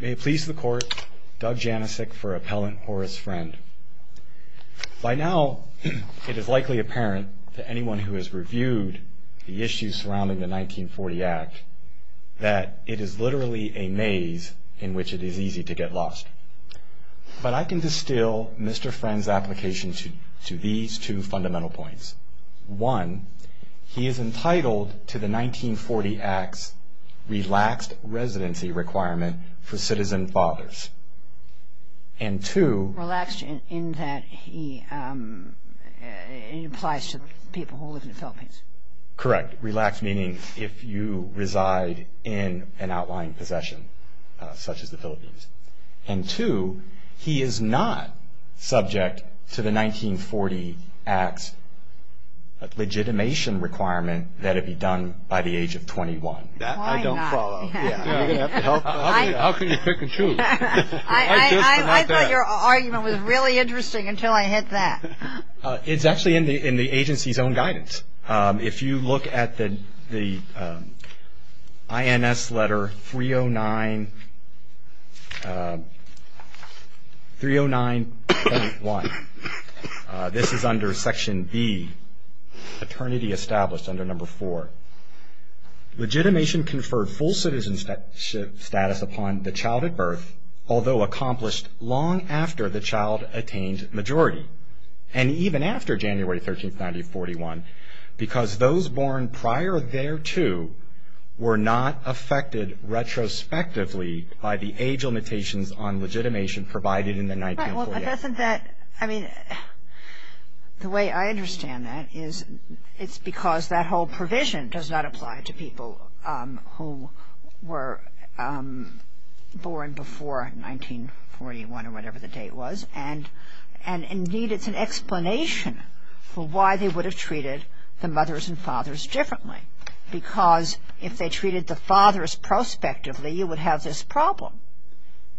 May it please the Court, Doug Janicek for Appellant Horace Friend. By now, it is likely apparent to anyone who has reviewed the issues surrounding the 1940 Act that it is literally a maze in which it is easy to get lost. But I can distill Mr. Friend's application to these two fundamental points. One, he is entitled to the 1940 Act's relaxed residency requirement for citizen fathers. And two... Relaxed in that he applies to people who live in the Philippines. Correct. Relaxed meaning if you reside in an outlying possession such as the Philippines. And two, he is not subject to the 1940 Act's legitimation requirement that it be done by the age of 21. That I don't follow. How can you pick and choose? I thought your argument was really interesting until I hit that. It's actually in the agency's own guidance. If you look at the INS letter 309.1, this is under section B, paternity established under number 4. Legitimation conferred full citizenship status upon the child at birth, although accomplished long after the child attained majority. And even after January 13, 1941. Because those born prior thereto were not affected retrospectively by the age limitations on legitimation provided in the 1940 Act. The way I understand that is it's because that whole provision does not apply to people who were born before 1941 or whatever the date was. And indeed it's an explanation for why they would have treated the mothers and fathers differently. Because if they treated the fathers prospectively, you would have this problem.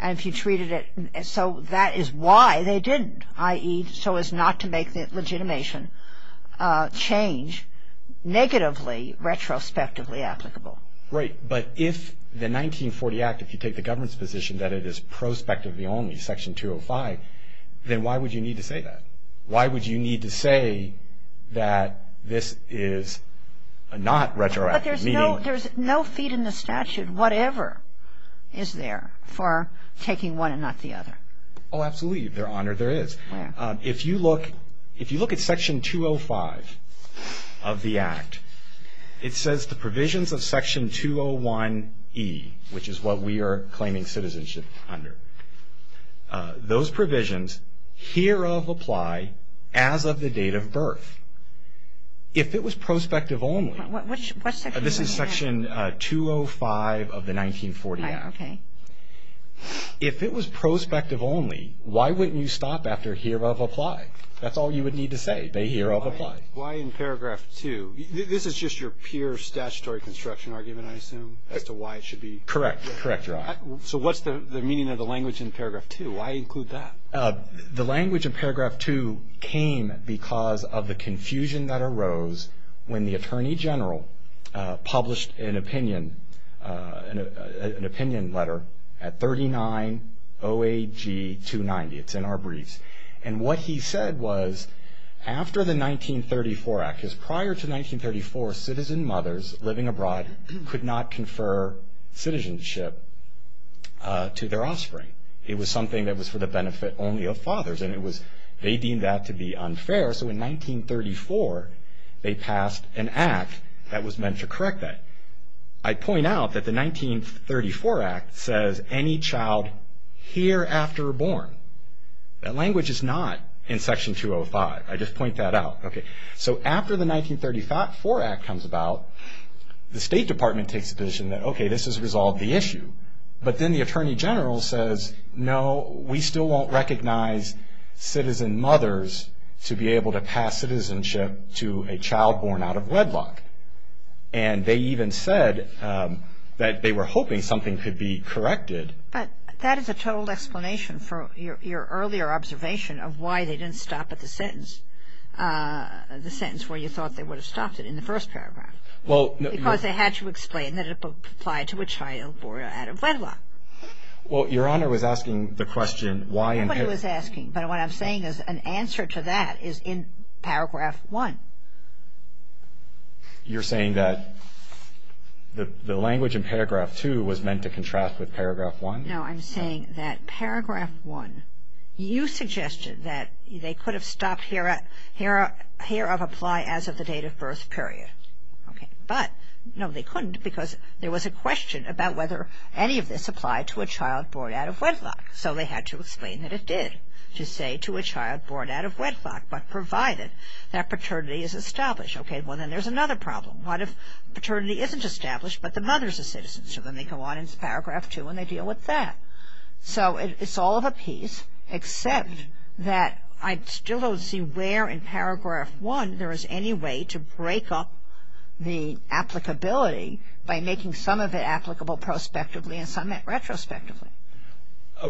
And if you treated it, so that is why they didn't. I.e. so as not to make the legitimation change negatively retrospectively applicable. Right. But if the 1940 Act, if you take the government's position that it is prospectively only, then why would you need to say that? Why would you need to say that this is not retroactive? But there's no feed in the statute, whatever is there for taking one and not the other. Oh, absolutely, Your Honor, there is. If you look at section 205 of the Act, it says the provisions of section 201E, which is what we are claiming citizenship under, those provisions hereof apply as of the date of birth. If it was prospective only, this is section 205 of the 1940 Act, if it was prospective only, why wouldn't you stop after hereof apply? That's all you would need to say, the hereof apply. Why in paragraph 2? This is just your pure statutory construction argument, I assume, as to why it should be? Correct. Correct, Your Honor. So what's the meaning of the language in paragraph 2? Why include that? The language in paragraph 2 came because of the confusion that arose when the Attorney General published an opinion letter at 39 OAG 290. It's in our briefs. And what he said was, after the 1934 Act, because prior to 1934, citizen mothers living abroad could not confer citizenship to their offspring. It was something that was for the benefit only of fathers, and they deemed that to be unfair. So in 1934, they passed an Act that was meant to correct that. I point out that the 1934 Act says any child hereafter born. That language is not in section 205. I just point that out. So after the 1934 Act comes about, the State Department takes a position that, okay, this has resolved the issue. But then the Attorney General says, no, we still won't recognize citizen mothers to be able to pass citizenship to a child born out of wedlock. And they even said that they were hoping something could be corrected. But that is a total explanation for your earlier observation of why they didn't stop at the sentence where you thought they would have stopped it, in the first paragraph. Because they had to explain that it applied to a child born out of wedlock. Well, Your Honor was asking the question why in paragraph one. Everybody was asking. But what I'm saying is an answer to that is in paragraph one. You're saying that the language in paragraph two was meant to contrast with paragraph one? No, I'm saying that paragraph one, you suggested that they could have stopped here of apply as of the date of birth period. Okay. But, no, they couldn't because there was a question about whether any of this applied to a child born out of wedlock. So they had to explain that it did to say to a child born out of wedlock, but provided that paternity is established. Okay. Well, then there's another problem. What if paternity isn't established but the mother is a citizen? So then they go on in paragraph two and they deal with that. So it's all of a piece except that I still don't see where in paragraph one there is any way to break up the applicability by making some of it applicable prospectively and some retrospectively.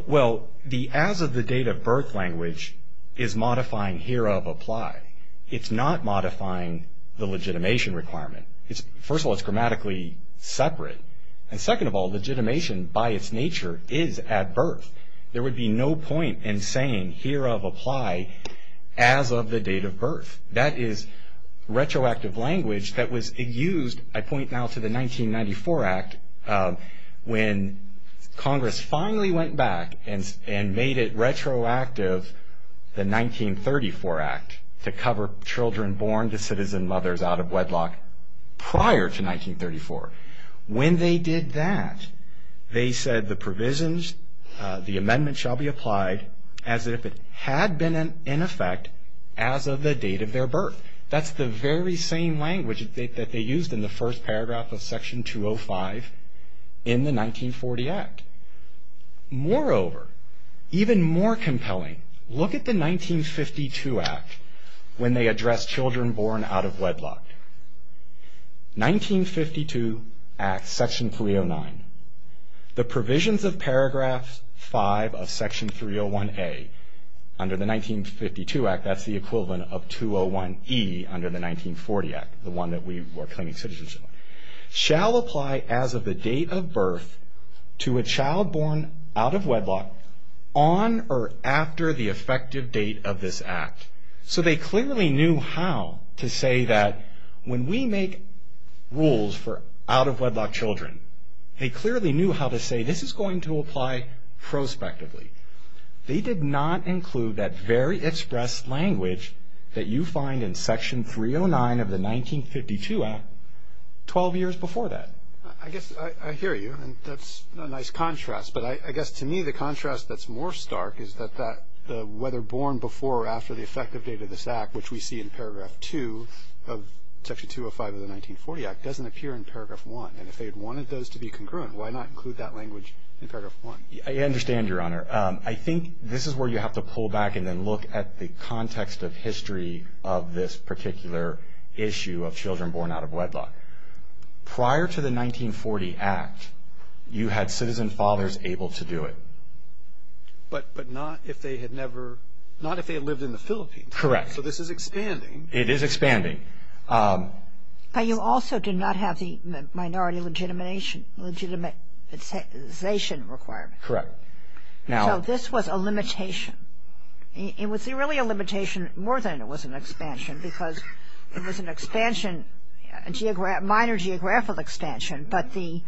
Well, the as of the date of birth language is modifying here of apply. It's not modifying the legitimation requirement. First of all, it's grammatically separate. And second of all, legitimation by its nature is at birth. There would be no point in saying here of apply as of the date of birth. That is retroactive language that was used, I point now to the 1994 Act, when Congress finally went back and made it retroactive, the 1934 Act, to cover children born to citizen mothers out of wedlock prior to 1934. When they did that, they said the provisions, the amendment shall be applied as if it had been in effect as of the date of their birth. That's the very same language that they used in the first paragraph of Section 205 in the 1940 Act. Moreover, even more compelling, look at the 1952 Act when they addressed children born out of wedlock. 1952 Act, Section 309. The provisions of paragraph five of Section 301A under the 1952 Act, that's the equivalent of 201E under the 1940 Act, the one that we were claiming citizenship on, shall apply as of the date of birth to a child born out of wedlock on or after the effective date of this Act. So they clearly knew how to say that when we make rules for out of wedlock children, they clearly knew how to say this is going to apply prospectively. They did not include that very express language that you find in Section 309 of the 1952 Act 12 years before that. I guess I hear you, and that's a nice contrast. But I guess to me the contrast that's more stark is that the whether born before or after the effective date of this Act, which we see in paragraph two of Section 205 of the 1940 Act, doesn't appear in paragraph one. And if they had wanted those to be congruent, why not include that language in paragraph one? I understand, Your Honor. I think this is where you have to pull back and then look at the context of history of this particular issue of children born out of wedlock. Prior to the 1940 Act, you had citizen fathers able to do it. But not if they had lived in the Philippines. Correct. So this is expanding. It is expanding. But you also did not have the minority legitimization requirement. Correct. So this was a limitation. It was really a limitation more than it was an expansion because it was an expansion, a minor geographical expansion, but the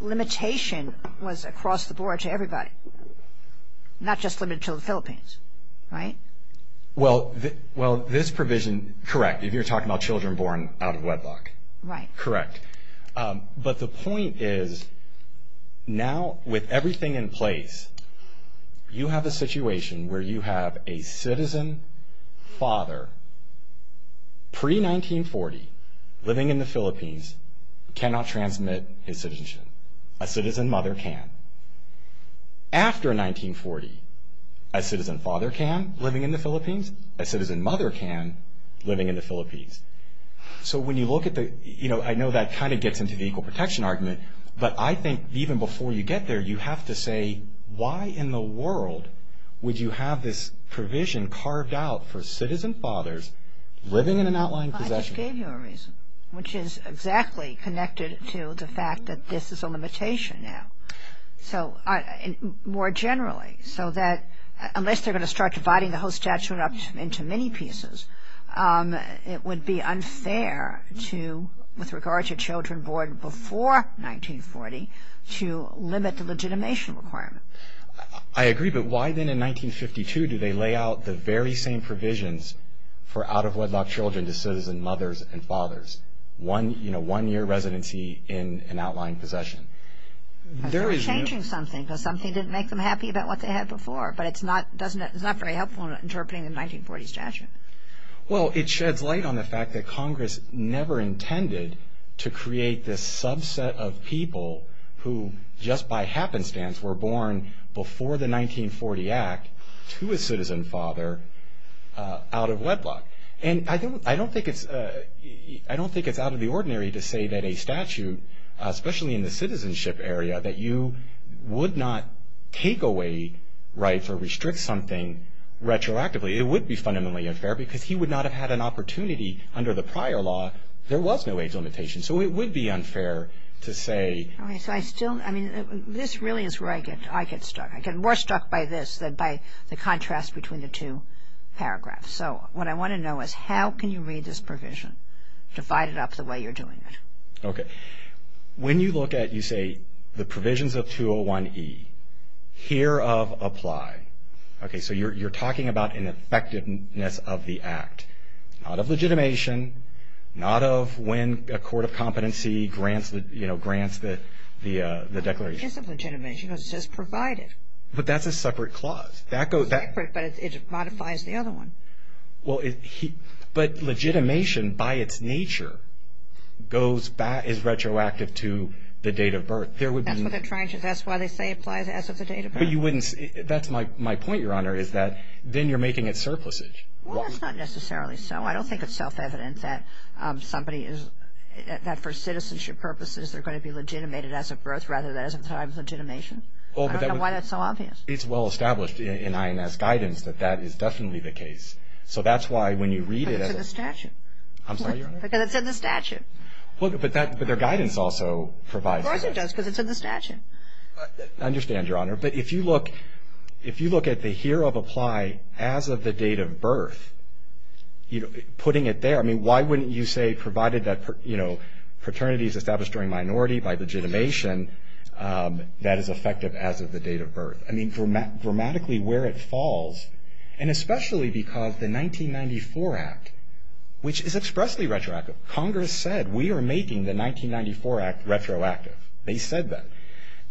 limitation was across the board to everybody, not just limited to the Philippines, right? Well, this provision, correct, you're talking about children born out of wedlock. Right. Correct. But the point is now with everything in place, you have a situation where you have a citizen father pre-1940, living in the Philippines, cannot transmit his citizenship. A citizen mother can. After 1940, a citizen father can, living in the Philippines. A citizen mother can, living in the Philippines. So when you look at the, you know, I know that kind of gets into the equal protection argument, but I think even before you get there, you have to say, why in the world would you have this provision carved out for citizen fathers living in an outlying possession? I just gave you a reason, which is exactly connected to the fact that this is a limitation now. So more generally, so that unless they're going to start dividing the whole statute up into many pieces, it would be unfair to, with regard to children born before 1940, to limit the legitimation requirement. I agree, but why then in 1952 do they lay out the very same provisions for out-of-wedlock children to citizen mothers and fathers? One, you know, one-year residency in an outlying possession. They're changing something because something didn't make them happy about what they had before, but it's not very helpful in interpreting the 1940 statute. Well, it sheds light on the fact that Congress never intended to create this subset of people who just by happenstance were born before the 1940 Act to a citizen father out of wedlock. And I don't think it's out of the ordinary to say that a statute, especially in the citizenship area, that you would not take away rights or restrict something retroactively. It would be fundamentally unfair because he would not have had an opportunity under the prior law. There was no age limitation, so it would be unfair to say. Okay, so I still, I mean, this really is where I get stuck. I get more stuck by this than by the contrast between the two paragraphs. So what I want to know is how can you read this provision, divide it up the way you're doing it? Okay, when you look at, you say, the provisions of 201E, hereof apply. Okay, so you're talking about an effectiveness of the Act, not of legitimation, not of when a court of competency grants the declaration. It isn't legitimation, it's just provided. But that's a separate clause. It's separate, but it modifies the other one. But legitimation, by its nature, is retroactive to the date of birth. That's why they say it applies as of the date of birth. That's my point, Your Honor, is that then you're making it surplusage. Well, that's not necessarily so. I don't think it's self-evident that for citizenship purposes they're going to be legitimated as of birth rather than as of the time of legitimation. I don't know why that's so obvious. It's well established in INS guidance that that is definitely the case. So that's why when you read it. But it's in the statute. I'm sorry, Your Honor? Because it's in the statute. But their guidance also provides that. Of course it does, because it's in the statute. I understand, Your Honor. But if you look at the hereof apply as of the date of birth, putting it there, I mean, why wouldn't you say provided that paternity is established during minority by legitimation, that is effective as of the date of birth? I mean, grammatically where it falls. And especially because the 1994 Act, which is expressly retroactive, Congress said we are making the 1994 Act retroactive. They said that.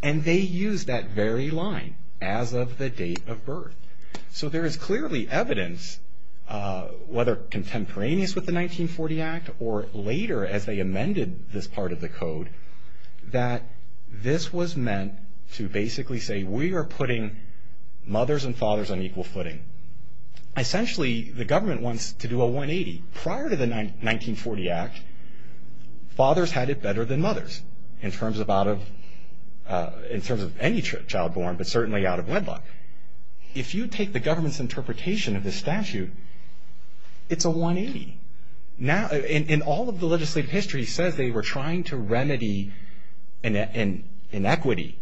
And they used that very line, as of the date of birth. So there is clearly evidence, whether contemporaneous with the 1940 Act or later as they amended this part of the code, that this was meant to basically say we are putting mothers and fathers on equal footing. Essentially, the government wants to do a 180. Prior to the 1940 Act, fathers had it better than mothers in terms of any child born, but certainly out of wedlock. If you take the government's interpretation of this statute, it's a 180. And all of the legislative history says they were trying to remedy an inequity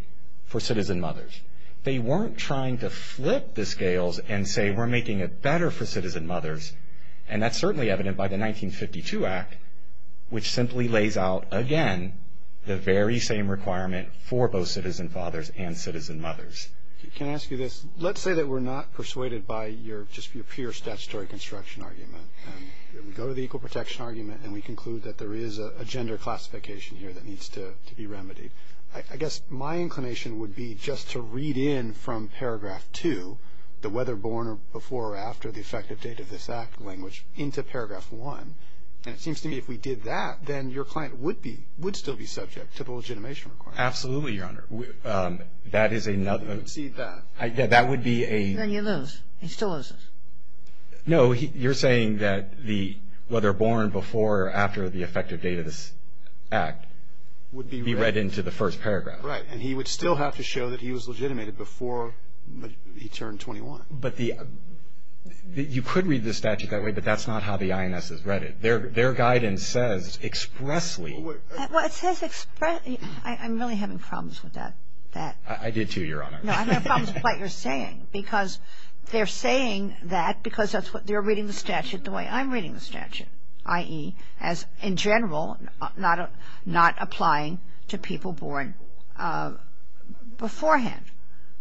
for citizen mothers. They weren't trying to flip the scales and say we're making it better for citizen mothers. And that's certainly evident by the 1952 Act, which simply lays out again the very same requirement for both citizen fathers and citizen mothers. Can I ask you this? Let's say that we're not persuaded by just your pure statutory construction argument, and we go to the equal protection argument and we conclude that there is a gender classification here that needs to be remedied. I guess my inclination would be just to read in from Paragraph 2, the whether born or before or after the effective date of this Act language, into Paragraph 1. And it seems to me if we did that, then your client would still be subject to the legitimation requirement. Absolutely, Your Honor. That is another. You would cede that. That would be a. Then you lose. He still loses. No. You're saying that the whether born before or after the effective date of this Act would be read into the first paragraph. Right. And he would still have to show that he was legitimated before he turned 21. But you could read the statute that way, but that's not how the INS has read it. Their guidance says expressly. Well, it says expressly. I'm really having problems with that. I did, too, Your Honor. No, I'm having problems with what you're saying because they're saying that because that's what they're reading the statute the way I'm reading the statute, i.e., as in general not applying to people born beforehand.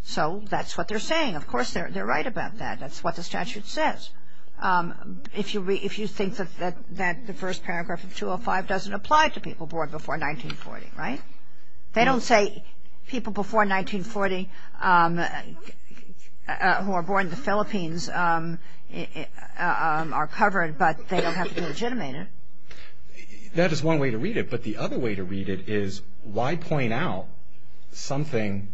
So that's what they're saying. Of course, they're right about that. That's what the statute says. If you think that the first paragraph of 205 doesn't apply to people born before 1940, right? They don't say people before 1940 who are born in the Philippines are covered, but they don't have to be legitimated. That is one way to read it. But the other way to read it is why point out something,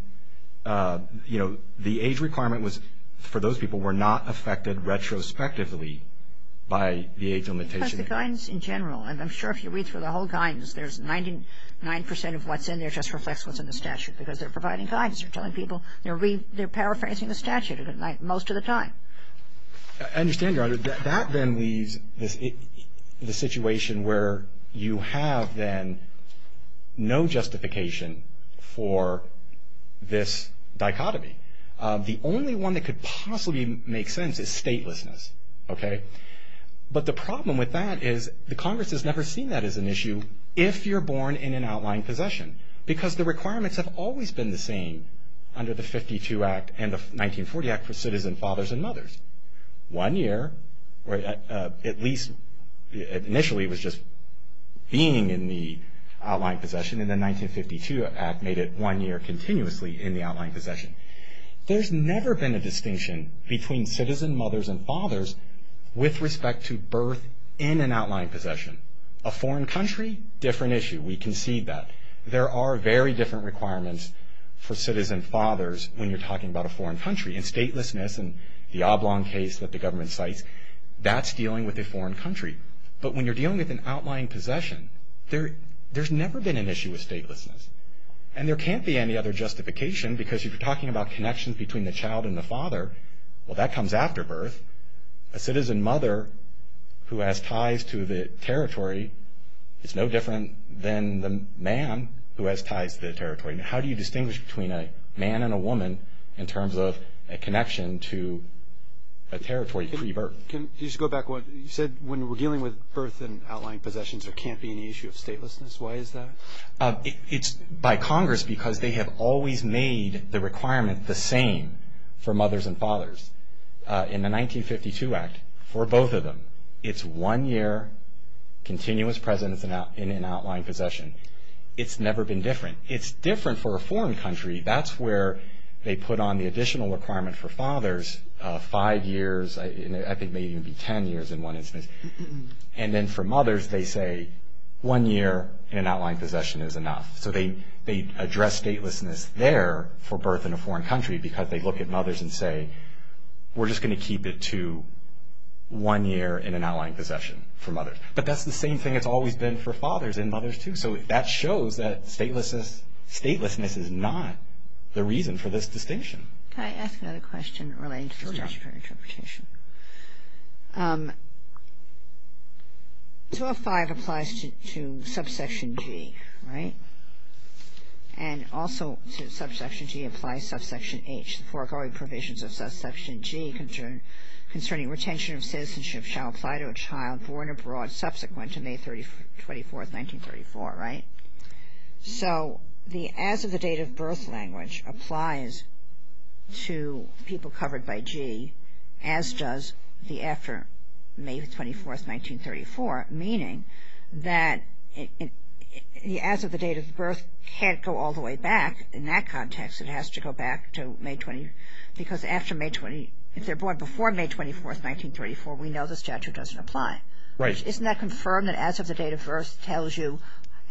you know, the age requirement was for those people were not affected retrospectively by the age limitation. Because the guidance in general, and I'm sure if you read through the whole guidance, there's 99 percent of what's in there just reflects what's in the statute because they're providing guidance. They're telling people they're paraphrasing the statute most of the time. I understand, Your Honor, that that then leaves the situation where you have then no justification for this dichotomy. The only one that could possibly make sense is statelessness, okay? But the problem with that is the Congress has never seen that as an issue if you're born in an outlying possession because the requirements have always been the same under the 52 Act and the 1940 Act for citizen fathers and mothers. One year, at least initially, was just being in the outlying possession, and the 1952 Act made it one year continuously in the outlying possession. There's never been a distinction between citizen mothers and fathers with respect to birth in an outlying possession. A foreign country, different issue. We concede that. There are very different requirements for citizen fathers when you're talking about a foreign country. And statelessness and the Oblong case that the government cites, that's dealing with a foreign country. But when you're dealing with an outlying possession, there's never been an issue with statelessness. And there can't be any other justification because if you're talking about connections between the child and the father, well, that comes after birth. A citizen mother who has ties to the territory is no different than the man who has ties to the territory. How do you distinguish between a man and a woman in terms of a connection to a territory pre-birth? Can you just go back one? You said when we're dealing with birth and outlying possessions, there can't be any issue of statelessness. Why is that? It's by Congress because they have always made the requirement the same for mothers and fathers. In the 1952 Act, for both of them, it's one year continuous presence in an outlying possession. It's never been different. It's different for a foreign country. That's where they put on the additional requirement for fathers, five years. I think maybe it would be ten years in one instance. And then for mothers, they say one year in an outlying possession is enough. So they address statelessness there for birth in a foreign country because they look at mothers and say, we're just going to keep it to one year in an outlying possession for mothers. But that's the same thing it's always been for fathers and mothers too. So that shows that statelessness is not the reason for this distinction. Can I ask another question relating to the statutory interpretation? 205 applies to subsection G, right? And also subsection G applies to subsection H. The foregoing provisions of subsection G concerning retention of citizenship shall apply to a child born abroad subsequent to May 24, 1934, right? So the as-of-the-date-of-birth language applies to people covered by G as does the after May 24, 1934, meaning that the as-of-the-date-of-birth can't go all the way back in that context. It has to go back to May 20, because after May 20, if they're born before May 24, 1934, we know the statute doesn't apply. Right. Isn't that confirmed that as-of-the-date-of-birth tells you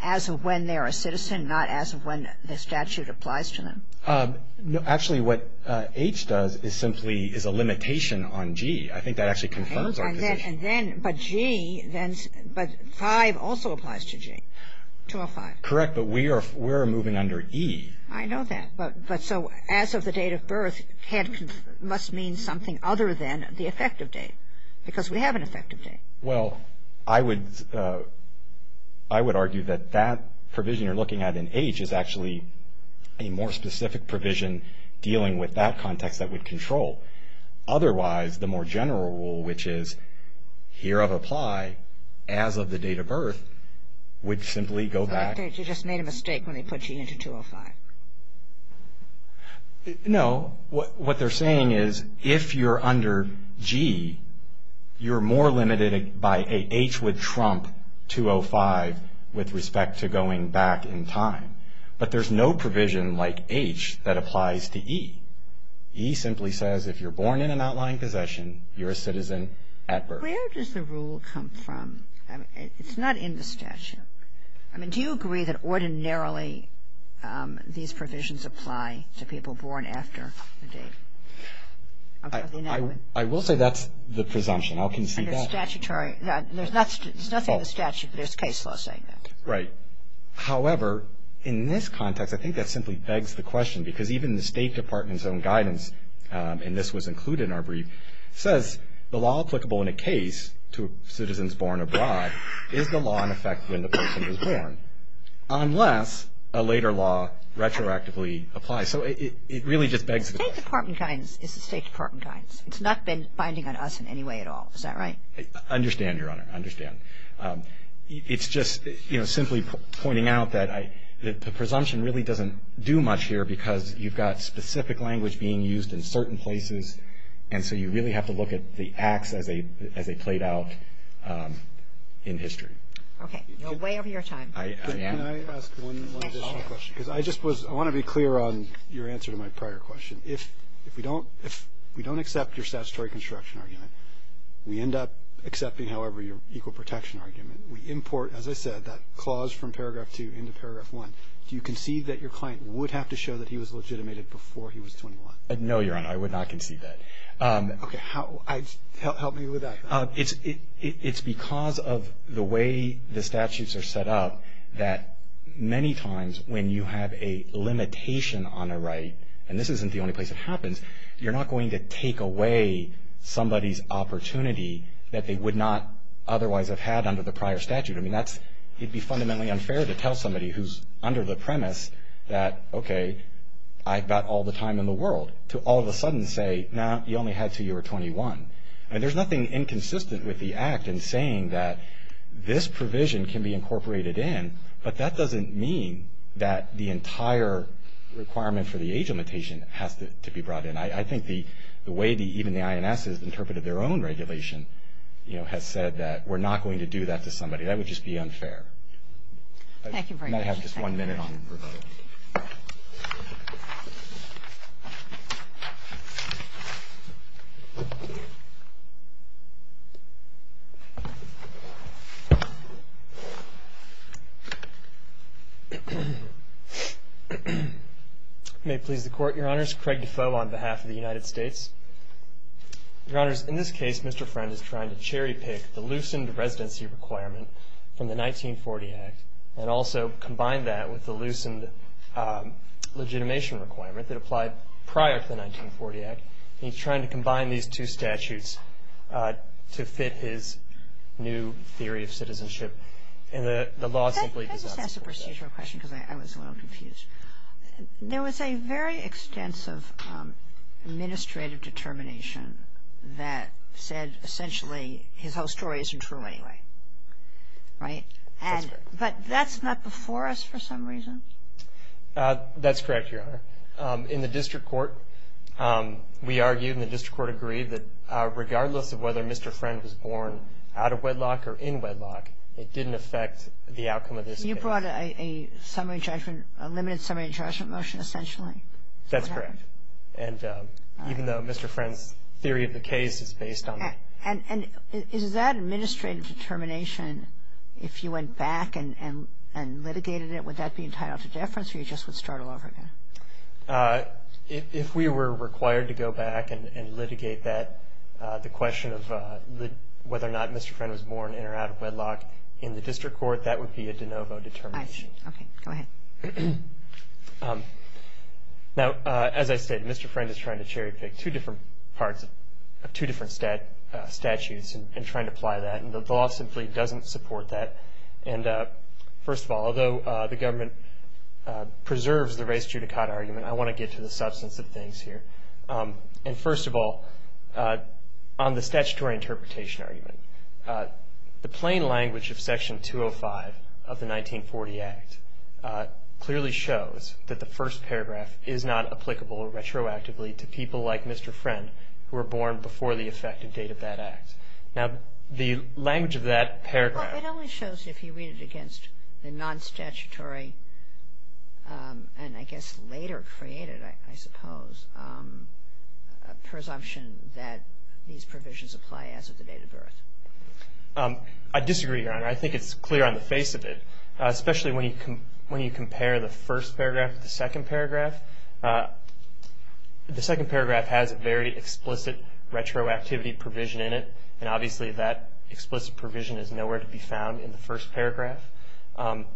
as of when they're a citizen, not as of when the statute applies to them? No. Actually, what H does is simply is a limitation on G. I think that actually confirms our position. But G, but 5 also applies to G, 205. Correct. But we are moving under E. I know that. But so as-of-the-date-of-birth must mean something other than the effective date, because we have an effective date. Well, I would argue that that provision you're looking at in H is actually a more specific provision dealing with that context that would control. Otherwise, the more general rule, which is hereof apply as-of-the-date-of-birth, would simply go back. But they just made a mistake when they put G into 205. No. What they're saying is if you're under G, you're more limited by H would trump 205 with respect to going back in time. But there's no provision like H that applies to E. E simply says if you're born in an outlying possession, you're a citizen at birth. Where does the rule come from? It's not in the statute. I mean, do you agree that ordinarily these provisions apply to people born after the date? I will say that's the presumption. How can you see that? There's nothing in the statute, but there's case law saying that. Right. However, in this context, I think that simply begs the question, because even the State Department's own guidance, and this was included in our brief, the law applicable in a case to citizens born abroad is the law in effect when the person is born, unless a later law retroactively applies. So it really just begs the question. The State Department guidance is the State Department guidance. It's not been binding on us in any way at all. Is that right? I understand, Your Honor. I understand. It's just simply pointing out that the presumption really doesn't do much here because you've got specific language being used in certain places, and so you really have to look at the acts as they played out in history. Okay. You're way over your time. Can I ask one additional question? Because I just want to be clear on your answer to my prior question. If we don't accept your statutory construction argument, we end up accepting, however, your equal protection argument. We import, as I said, that clause from Paragraph 2 into Paragraph 1. Do you concede that your client would have to show that he was legitimated before he was 21? No, Your Honor. I would not concede that. Okay. Help me with that. It's because of the way the statutes are set up that many times when you have a limitation on a right, and this isn't the only place it happens, you're not going to take away somebody's opportunity that they would not otherwise have had under the prior statute. I mean, it would be fundamentally unfair to tell somebody who's under the premise that, okay, I've got all the time in the world to all of a sudden say, no, you only had until you were 21. I mean, there's nothing inconsistent with the act in saying that this provision can be incorporated in, but that doesn't mean that the entire requirement for the age limitation has to be brought in. I think the way even the INS has interpreted their own regulation, you know, has said that we're not going to do that to somebody. That would just be unfair. Thank you very much. I might have just one minute on rebuttal. May it please the Court, Your Honors. Craig Defoe on behalf of the United States. Your Honors, in this case, Mr. Friend is trying to cherry pick the loosened residency requirement from the 1940 Act and also combine that with the loosened legitimation requirement that applied prior to the 1940 Act. He's trying to combine these two statutes to fit his new theory of citizenship, and the law simply does not support that. Can I just ask a procedural question because I was a little confused? There was a very extensive administrative determination that said essentially his whole story isn't true anyway, right? But that's not before us for some reason? That's correct, Your Honor. In the district court, we argued and the district court agreed that regardless of whether Mr. Friend was born out of wedlock or in wedlock, it didn't affect the outcome of this case. And you brought a summary judgment, a limited summary judgment motion essentially? That's correct. And even though Mr. Friend's theory of the case is based on that. And is that administrative determination, if you went back and litigated it, would that be entitled to deference or you just would start all over again? If we were required to go back and litigate that, the question of whether or not Mr. Friend was born in or out of wedlock in the district court, that would be a de novo determination. Okay, go ahead. Now, as I said, Mr. Friend is trying to cherry pick two different parts of two different statutes and trying to apply that, and the law simply doesn't support that. And first of all, although the government preserves the race judicata argument, I want to get to the substance of things here. And first of all, on the statutory interpretation argument, the plain language of Section 205 of the 1940 Act clearly shows that the first paragraph is not applicable retroactively to people like Mr. Friend who were born before the effective date of that act. Now, the language of that paragraph. Well, it only shows if you read it against the non-statutory and I guess later created, I suppose, presumption that these provisions apply as of the date of birth. I disagree, Your Honor. I think it's clear on the face of it, especially when you compare the first paragraph with the second paragraph. The second paragraph has a very explicit retroactivity provision in it, and obviously that explicit provision is nowhere to be found in the first paragraph. And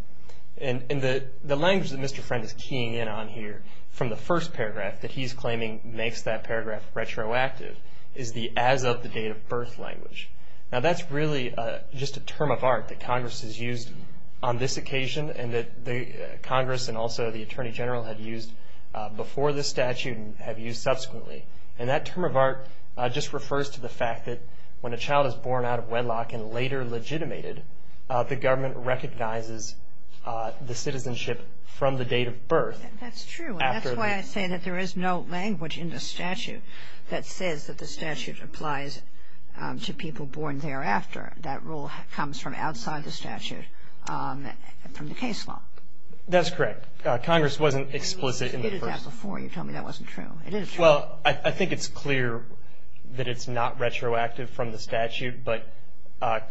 the language that Mr. Friend is keying in on here from the first paragraph that he's claiming makes that paragraph retroactive is the as of the date of birth language. Now, that's really just a term of art that Congress has used on this occasion and that Congress and also the Attorney General have used before this statute and have used subsequently. And that term of art just refers to the fact that when a child is born out of wedlock and later legitimated, the government recognizes the citizenship from the date of birth. That's true. And that's why I say that there is no language in the statute that says that the statute applies to people born thereafter. That rule comes from outside the statute from the case law. That's correct. Congress wasn't explicit in the first. You did that before. You told me that wasn't true. It is true. Well, I think it's clear that it's not retroactive from the statute, but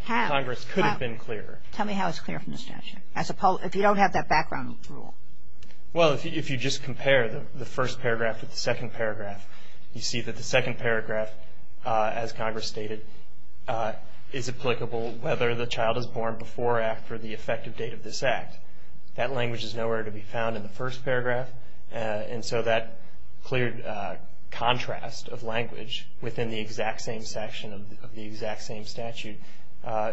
Congress could have been clearer. Tell me how it's clear from the statute. If you don't have that background rule. Well, if you just compare the first paragraph with the second paragraph, you see that the second paragraph, as Congress stated, is applicable whether the child is born before or after the effective date of this act. That language is nowhere to be found in the first paragraph, and so that clear contrast of language within the exact same section of the exact same statute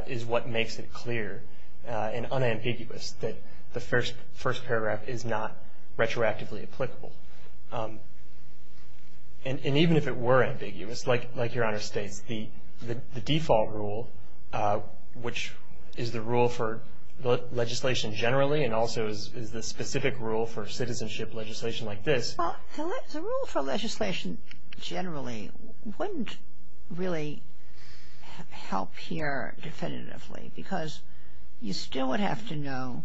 is what makes it clear and unambiguous that the first paragraph is not retroactively applicable. And even if it were ambiguous, like Your Honor states, the default rule, which is the rule for legislation generally and also is the specific rule for citizenship legislation like this. Well, the rule for legislation generally wouldn't really help here definitively because you still would have to know,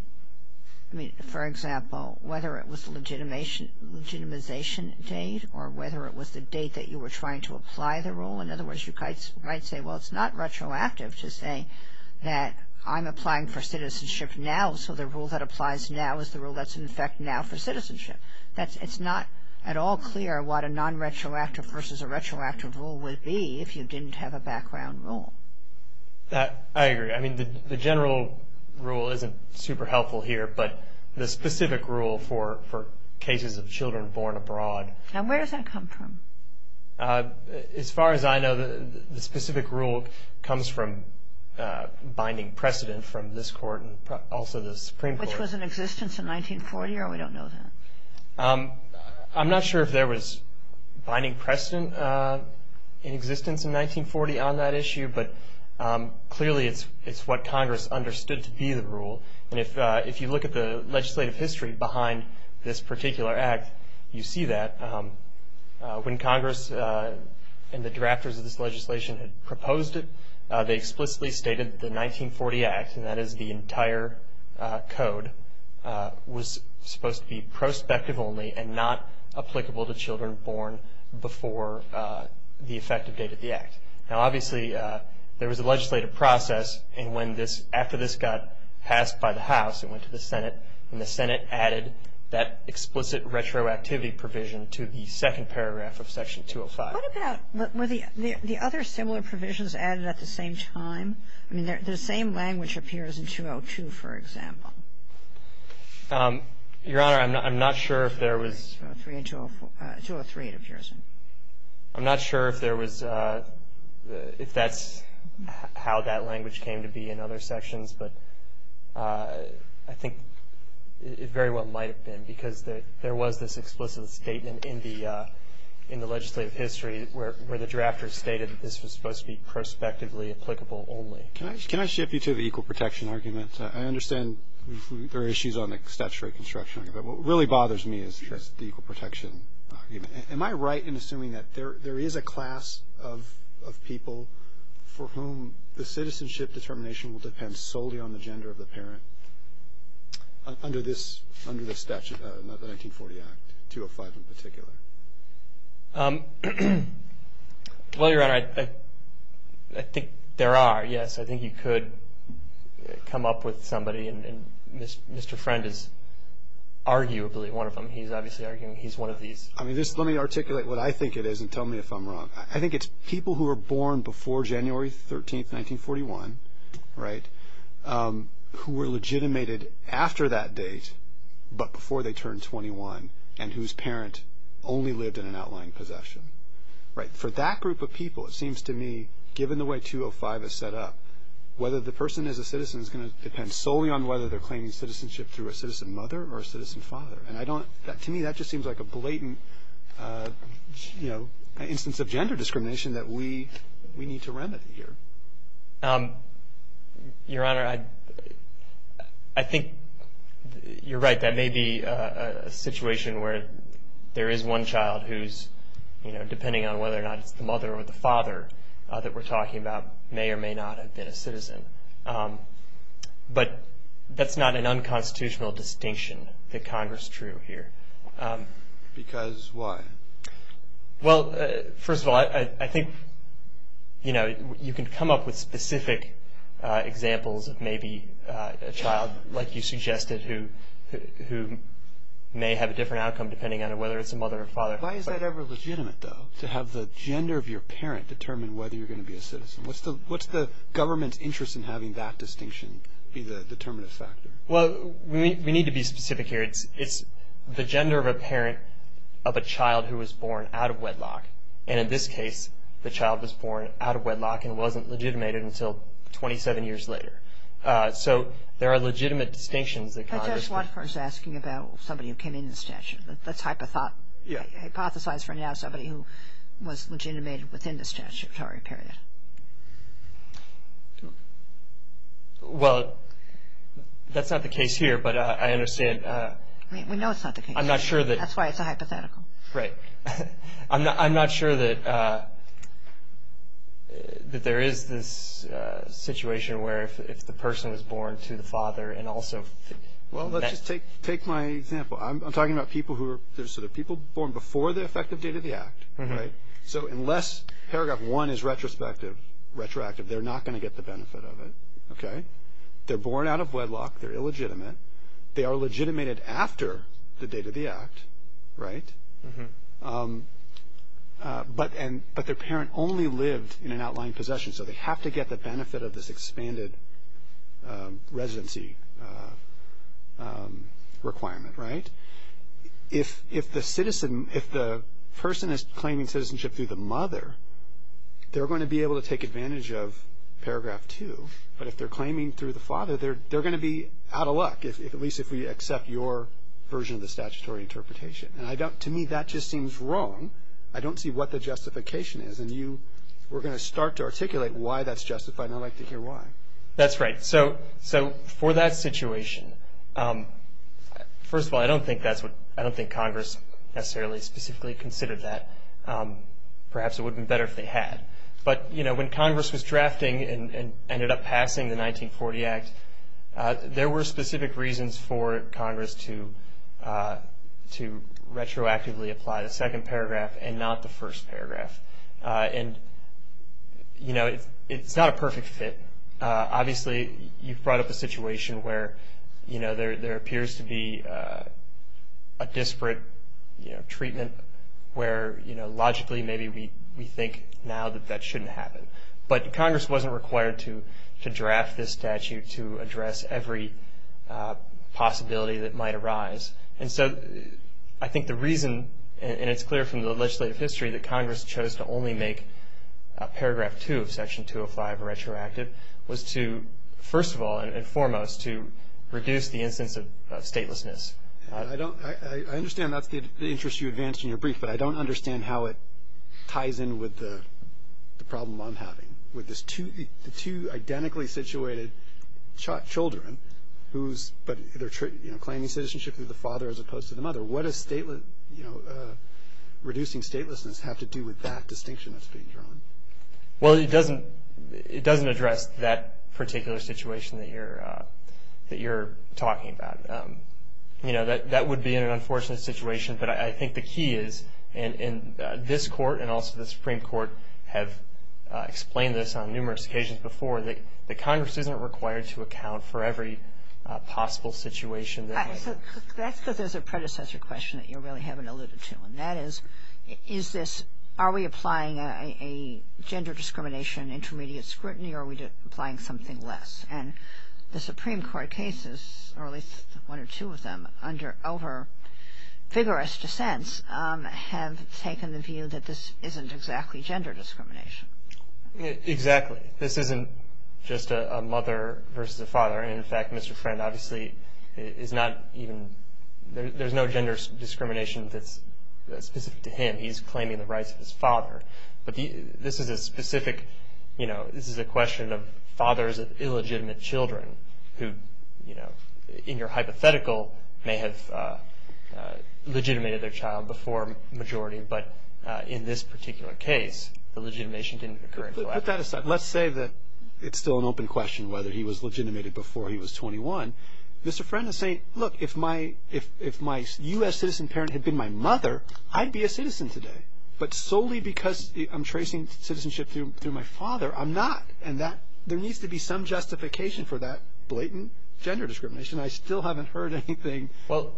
I mean, for example, whether it was the legitimization date or whether it was the date that you were trying to apply the rule. In other words, you might say, well, it's not retroactive to say that I'm applying for citizenship now, so the rule that applies now is the rule that's in effect now for citizenship. It's not at all clear what a nonretroactive versus a retroactive rule would be if you didn't have a background rule. I agree. I mean, the general rule isn't super helpful here, but the specific rule for cases of children born abroad. And where does that come from? As far as I know, the specific rule comes from binding precedent from this Court and also the Supreme Court. Which was in existence in 1940, or we don't know that? I'm not sure if there was binding precedent in existence in 1940 on that issue, but clearly it's what Congress understood to be the rule. And if you look at the legislative history behind this particular act, you see that. When Congress and the drafters of this legislation had proposed it, they explicitly stated that the 1940 Act, and that is the entire code, was supposed to be prospective only and not applicable to children born before the effective date of the Act. Now, obviously, there was a legislative process. And after this got passed by the House, it went to the Senate, and the Senate added that explicit retroactivity provision to the second paragraph of Section 205. What about the other similar provisions added at the same time? I mean, the same language appears in 202, for example. Your Honor, I'm not sure if there was. 203 it appears in. I'm not sure if there was, if that's how that language came to be in other sections, but I think it very well might have been, because there was this explicit statement in the legislative history where the drafters stated that this was supposed to be prospectively applicable only. Can I shift you to the equal protection argument? I understand there are issues on the statute of reconstruction, but what really bothers me is the equal protection argument. Am I right in assuming that there is a class of people for whom the citizenship determination will depend solely on the gender of the parent under the 1940 Act, 205 in particular? Well, Your Honor, I think there are, yes. I think you could come up with somebody, and Mr. Friend is arguably one of them. He's obviously arguing he's one of these. I mean, just let me articulate what I think it is and tell me if I'm wrong. I think it's people who were born before January 13, 1941, right, who were legitimated after that date but before they turned 21 and whose parent only lived in an outlying possession. For that group of people, it seems to me, given the way 205 is set up, whether the person is a citizen is going to depend solely on whether they're claiming citizenship through a citizen mother or a citizen father. And to me, that just seems like a blatant, you know, instance of gender discrimination that we need to remedy here. Your Honor, I think you're right. That may be a situation where there is one child who's, you know, depending on whether or not it's the mother or the father that we're talking about, may or may not have been a citizen. But that's not an unconstitutional distinction that Congress drew here. Because why? Well, first of all, I think, you know, you can come up with specific examples of maybe a child, like you suggested, who may have a different outcome depending on whether it's a mother or father. Why is that ever legitimate, though, to have the gender of your parent determine whether you're going to be a citizen? What's the government's interest in having that distinction be the determinative factor? Well, we need to be specific here. It's the gender of a parent of a child who was born out of wedlock. And in this case, the child was born out of wedlock and wasn't legitimated until 27 years later. So there are legitimate distinctions that Congress could. But that's what I was asking about somebody who came in the statute. That's hypothesized for now somebody who was legitimated within the statutory period. Well, that's not the case here, but I understand. We know it's not the case. I'm not sure that. That's why it's a hypothetical. Right. I'm not sure that there is this situation where if the person was born to the father and also... Well, let's just take my example. I'm talking about people who are sort of people born before the effective date of the act. So unless Paragraph 1 is retrospective, they're not going to get the benefit of it. They're born out of wedlock. They're illegitimate. They are legitimated after the date of the act. But their parent only lived in an outlying possession, so they have to get the benefit of this expanded residency requirement, right? If the person is claiming citizenship through the mother, they're going to be able to take advantage of Paragraph 2. But if they're claiming through the father, they're going to be out of luck, at least if we accept your version of the statutory interpretation. To me, that just seems wrong. I don't see what the justification is. And you were going to start to articulate why that's justified, and I'd like to hear why. That's right. So for that situation, first of all, I don't think Congress necessarily specifically considered that. Perhaps it would have been better if they had. But, you know, when Congress was drafting and ended up passing the 1940 Act, there were specific reasons for Congress to retroactively apply the second paragraph and not the first paragraph. And, you know, it's not a perfect fit. Obviously, you've brought up a situation where, you know, there appears to be a disparate treatment where, you know, logically maybe we think now that that shouldn't happen. But Congress wasn't required to draft this statute to address every possibility that might arise. And so I think the reason, and it's clear from the legislative history, that Congress chose to only make Paragraph 2 of Section 205 retroactive was to, first of all and foremost, to reduce the instance of statelessness. I understand that's the interest you advanced in your brief, but I don't understand how it ties in with the problem I'm having with the two identically situated children who's claiming citizenship through the father as opposed to the mother. What does reducing statelessness have to do with that distinction that's being drawn? Well, it doesn't address that particular situation that you're talking about. You know, that would be an unfortunate situation. But I think the key is, and this Court and also the Supreme Court have explained this on numerous occasions before, that Congress isn't required to account for every possible situation. That's because there's a predecessor question that you really haven't alluded to. And that is, is this, are we applying a gender discrimination intermediate scrutiny or are we applying something less? And the Supreme Court cases, or at least one or two of them, over vigorous dissents have taken the view that this isn't exactly gender discrimination. Exactly. This isn't just a mother versus a father. In fact, Mr. Friend obviously is not even, there's no gender discrimination that's specific to him. He's claiming the rights of his father. But this is a specific, you know, this is a question of fathers of illegitimate children who, you know, in your hypothetical may have legitimated their child before majority. But in this particular case, the legitimation didn't occur. Put that aside. Let's say that it's still an open question whether he was legitimated before he was 21. Mr. Friend is saying, look, if my U.S. citizen parent had been my mother, I'd be a citizen today. But solely because I'm tracing citizenship through my father, I'm not. And that, there needs to be some justification for that blatant gender discrimination. I still haven't heard anything. Well,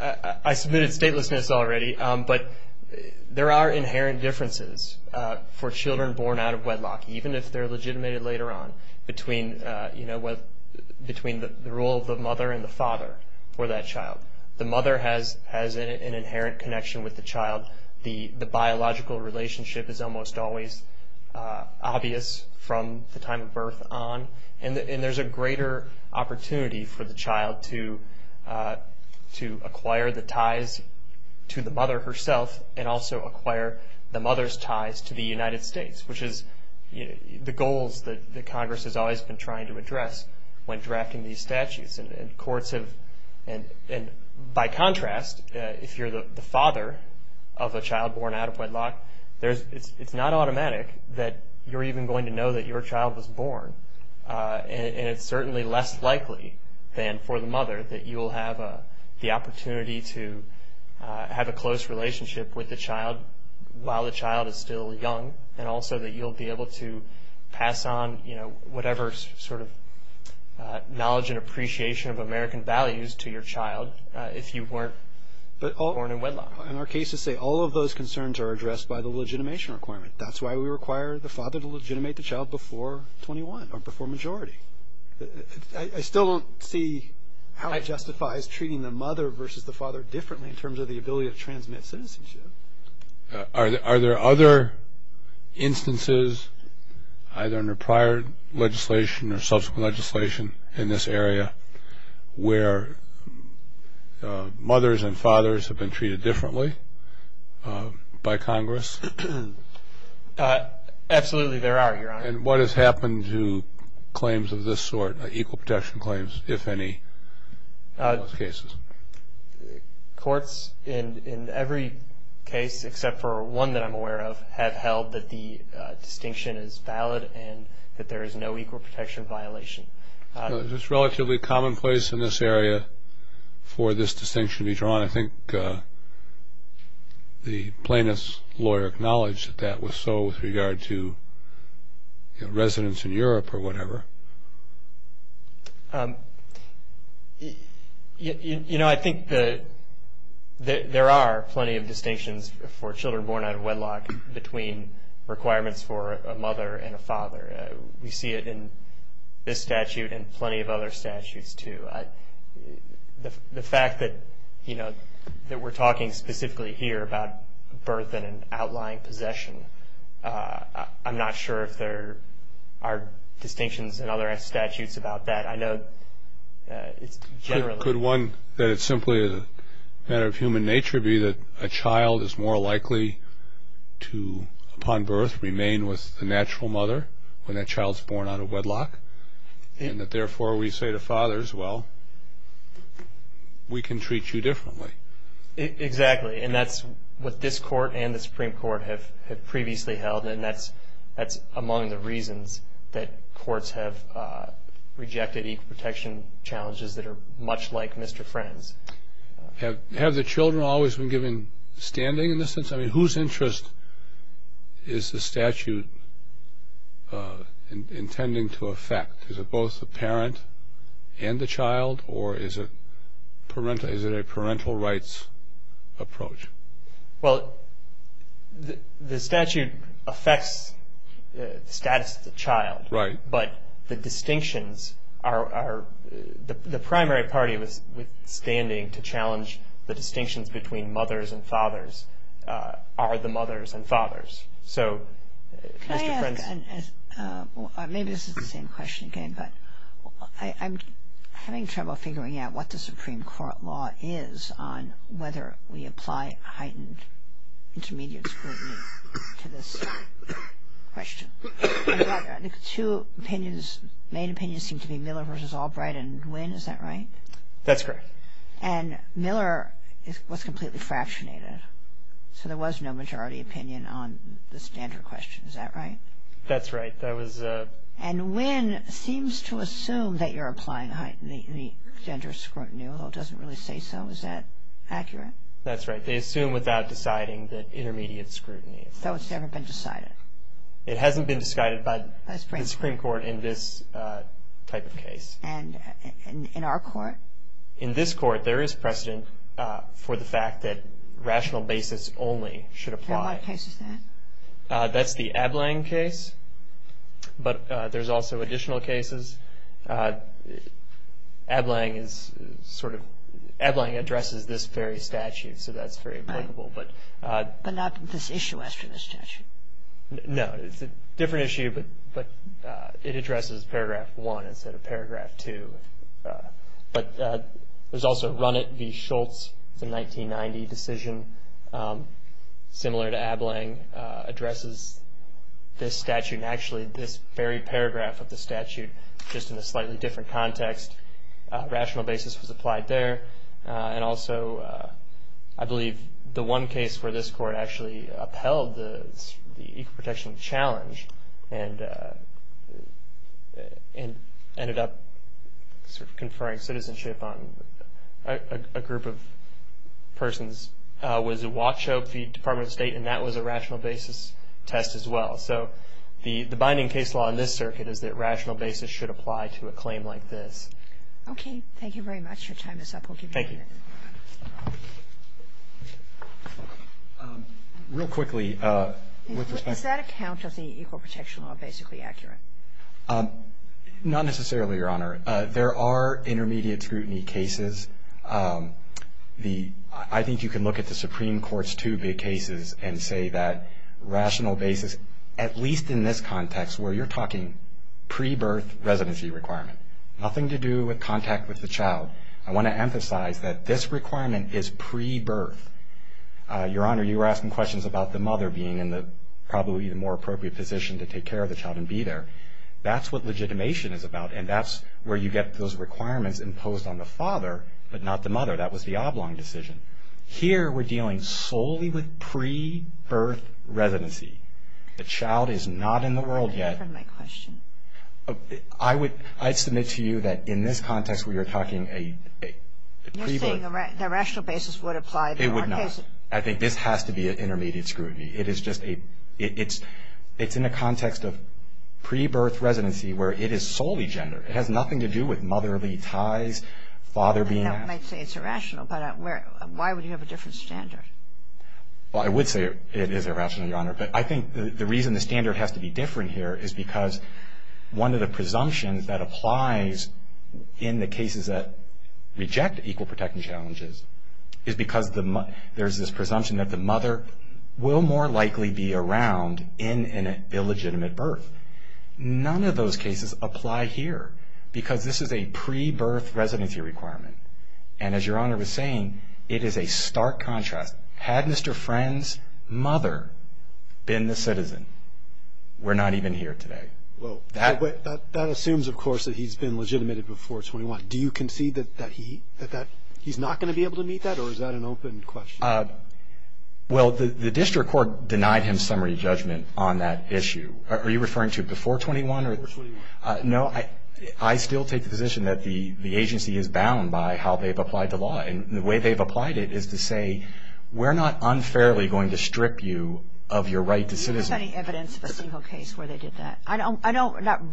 I submitted statelessness already. But there are inherent differences for children born out of wedlock, even if they're legitimated later on between, you know, between the role of the mother and the father for that child. The mother has an inherent connection with the child. The biological relationship is almost always obvious from the time of birth on. And there's a greater opportunity for the child to acquire the ties to the mother herself and also acquire the mother's ties to the United States, which is the goals that Congress has always been trying to address when drafting these statutes. And courts have, and by contrast, if you're the father of a child born out of wedlock, it's not automatic that you're even going to know that your child was born. And it's certainly less likely than for the mother that you will have the opportunity to have a close relationship with the child while the child is still young and also that you'll be able to pass on, you know, whatever sort of knowledge and appreciation of American values to your child if you weren't born in wedlock. But in our cases, say, all of those concerns are addressed by the legitimation requirement. That's why we require the father to legitimate the child before 21 or before majority. I still don't see how it justifies treating the mother versus the father differently in terms of the ability to transmit citizenship. Are there other instances, either under prior legislation or subsequent legislation, in this area where mothers and fathers have been treated differently by Congress? Absolutely there are, Your Honor. And what has happened to claims of this sort, equal protection claims, if any, in those cases? Courts, in every case except for one that I'm aware of, have held that the distinction is valid and that there is no equal protection violation. Is this relatively commonplace in this area for this distinction to be drawn? I think the plaintiff's lawyer acknowledged that that was so with regard to residents in Europe or whatever. I think there are plenty of distinctions for children born out of wedlock between requirements for a mother and a father. We see it in this statute and plenty of other statutes, too. The fact that we're talking specifically here about birth and an outlying possession, I'm not sure if there are distinctions in other statutes about that. I know it's generally… Could one, that it's simply a matter of human nature, be that a child is more likely to, upon birth, remain with the natural mother when that child is born out of wedlock? And that, therefore, we say to fathers, well, we can treat you differently. Exactly. And that's what this Court and the Supreme Court have previously held, and that's among the reasons that courts have rejected equal protection challenges that are much like Mr. Friend's. Have the children always been given standing in this sense? I mean, whose interest is the statute intending to affect? Is it both the parent and the child, or is it a parental rights approach? Well, the statute affects the status of the child. Right. But the distinctions are, the primary party withstanding to challenge the distinctions between mothers and fathers are the mothers and fathers. So, Mr. Friend's… Maybe this is the same question again, but I'm having trouble figuring out what the Supreme Court law is on whether we apply heightened intermediate scrutiny to this question. Two opinions, main opinions seem to be Miller v. Albright and Nguyen. Is that right? That's correct. And Miller was completely fractionated, so there was no majority opinion on the standard question. Is that right? That's right. And Nguyen seems to assume that you're applying heightened gender scrutiny, although it doesn't really say so. Is that accurate? That's right. They assume without deciding that intermediate scrutiny. So it's never been decided? It hasn't been decided by the Supreme Court in this type of case. And in our court? In this court, there is precedent for the fact that rational basis only should apply. And what case is that? That's the Ableng case, but there's also additional cases. Ableng is sort of – Ableng addresses this very statute, so that's very applicable. But not this issue after the statute? No, it's a different issue, but it addresses Paragraph 1 instead of Paragraph 2. But there's also Runit v. Schultz, the 1990 decision, similar to Ableng, addresses this statute and actually this very paragraph of the statute, just in a slightly different context. Rational basis was applied there. And also, I believe, the one case where this court actually upheld the equal protection challenge and ended up sort of conferring citizenship on a group of persons was Wachow v. Department of State, and that was a rational basis test as well. So the binding case law in this circuit is that rational basis should apply to a claim like this. Okay, thank you very much. Your time is up. We'll give you a minute. Thank you. Real quickly, with respect to – Does that account to the equal protection law basically accurate? Not necessarily, Your Honor. There are intermediate scrutiny cases. I think you can look at the Supreme Court's two big cases and say that rational basis, at least in this context where you're talking pre-birth residency requirement, nothing to do with contact with the child. I want to emphasize that this requirement is pre-birth. Your Honor, you were asking questions about the mother being in probably the more appropriate position to take care of the child and be there. That's what legitimation is about, and that's where you get those requirements imposed on the father, but not the mother. That was the Oblong decision. Here, we're dealing solely with pre-birth residency. The child is not in the world yet. Pardon me for my question. You're saying the rational basis would apply to all cases. It would not. I think this has to be an intermediate scrutiny. It is just a – it's in a context of pre-birth residency where it is solely gendered. It has nothing to do with motherly ties, father being – I might say it's irrational, but why would you have a different standard? Well, I would say it is irrational, Your Honor, but I think the reason the standard has to be different here is because one of the presumptions that applies in the cases that reject equal protection challenges is because there's this presumption that the mother will more likely be around in an illegitimate birth. None of those cases apply here because this is a pre-birth residency requirement, and as Your Honor was saying, it is a stark contrast. Had Mr. Friend's mother been the citizen, we're not even here today. That assumes, of course, that he's been legitimated before 21. Do you concede that he's not going to be able to meet that, or is that an open question? Well, the district court denied him summary judgment on that issue. Are you referring to before 21? Before 21. No, I still take the position that the agency is bound by how they've applied the law, and the way they've applied it is to say we're not unfairly going to strip you of your right to citizen. Is there any evidence of a single case where they did that? I don't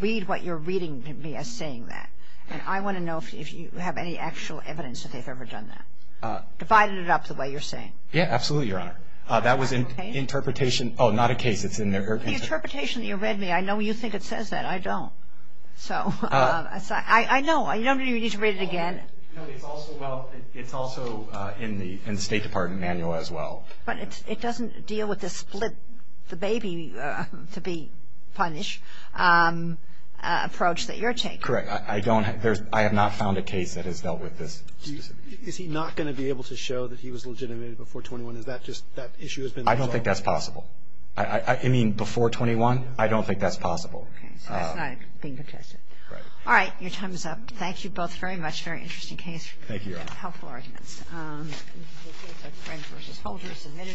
read what you're reading to me as saying that, and I want to know if you have any actual evidence that they've ever done that. Divided it up the way you're saying. Yeah, absolutely, Your Honor. That was an interpretation. Oh, not a case. It's in their interpretation. The interpretation that you read me, I know you think it says that. I don't. I know. You don't need to read it again. No, it's also in the State Department manual as well. But it doesn't deal with the split the baby to be punished approach that you're taking. Correct. I don't. I have not found a case that has dealt with this specifically. Is he not going to be able to show that he was legitimated before 21? Is that just that issue has been resolved? I don't think that's possible. I mean, before 21, I don't think that's possible. Okay. So that's not being contested. Right. All right. Your time is up. Thank you both very much. Very interesting case. Thank you, Your Honor. Helpful arguments. Thank you. Thank you. Thank you.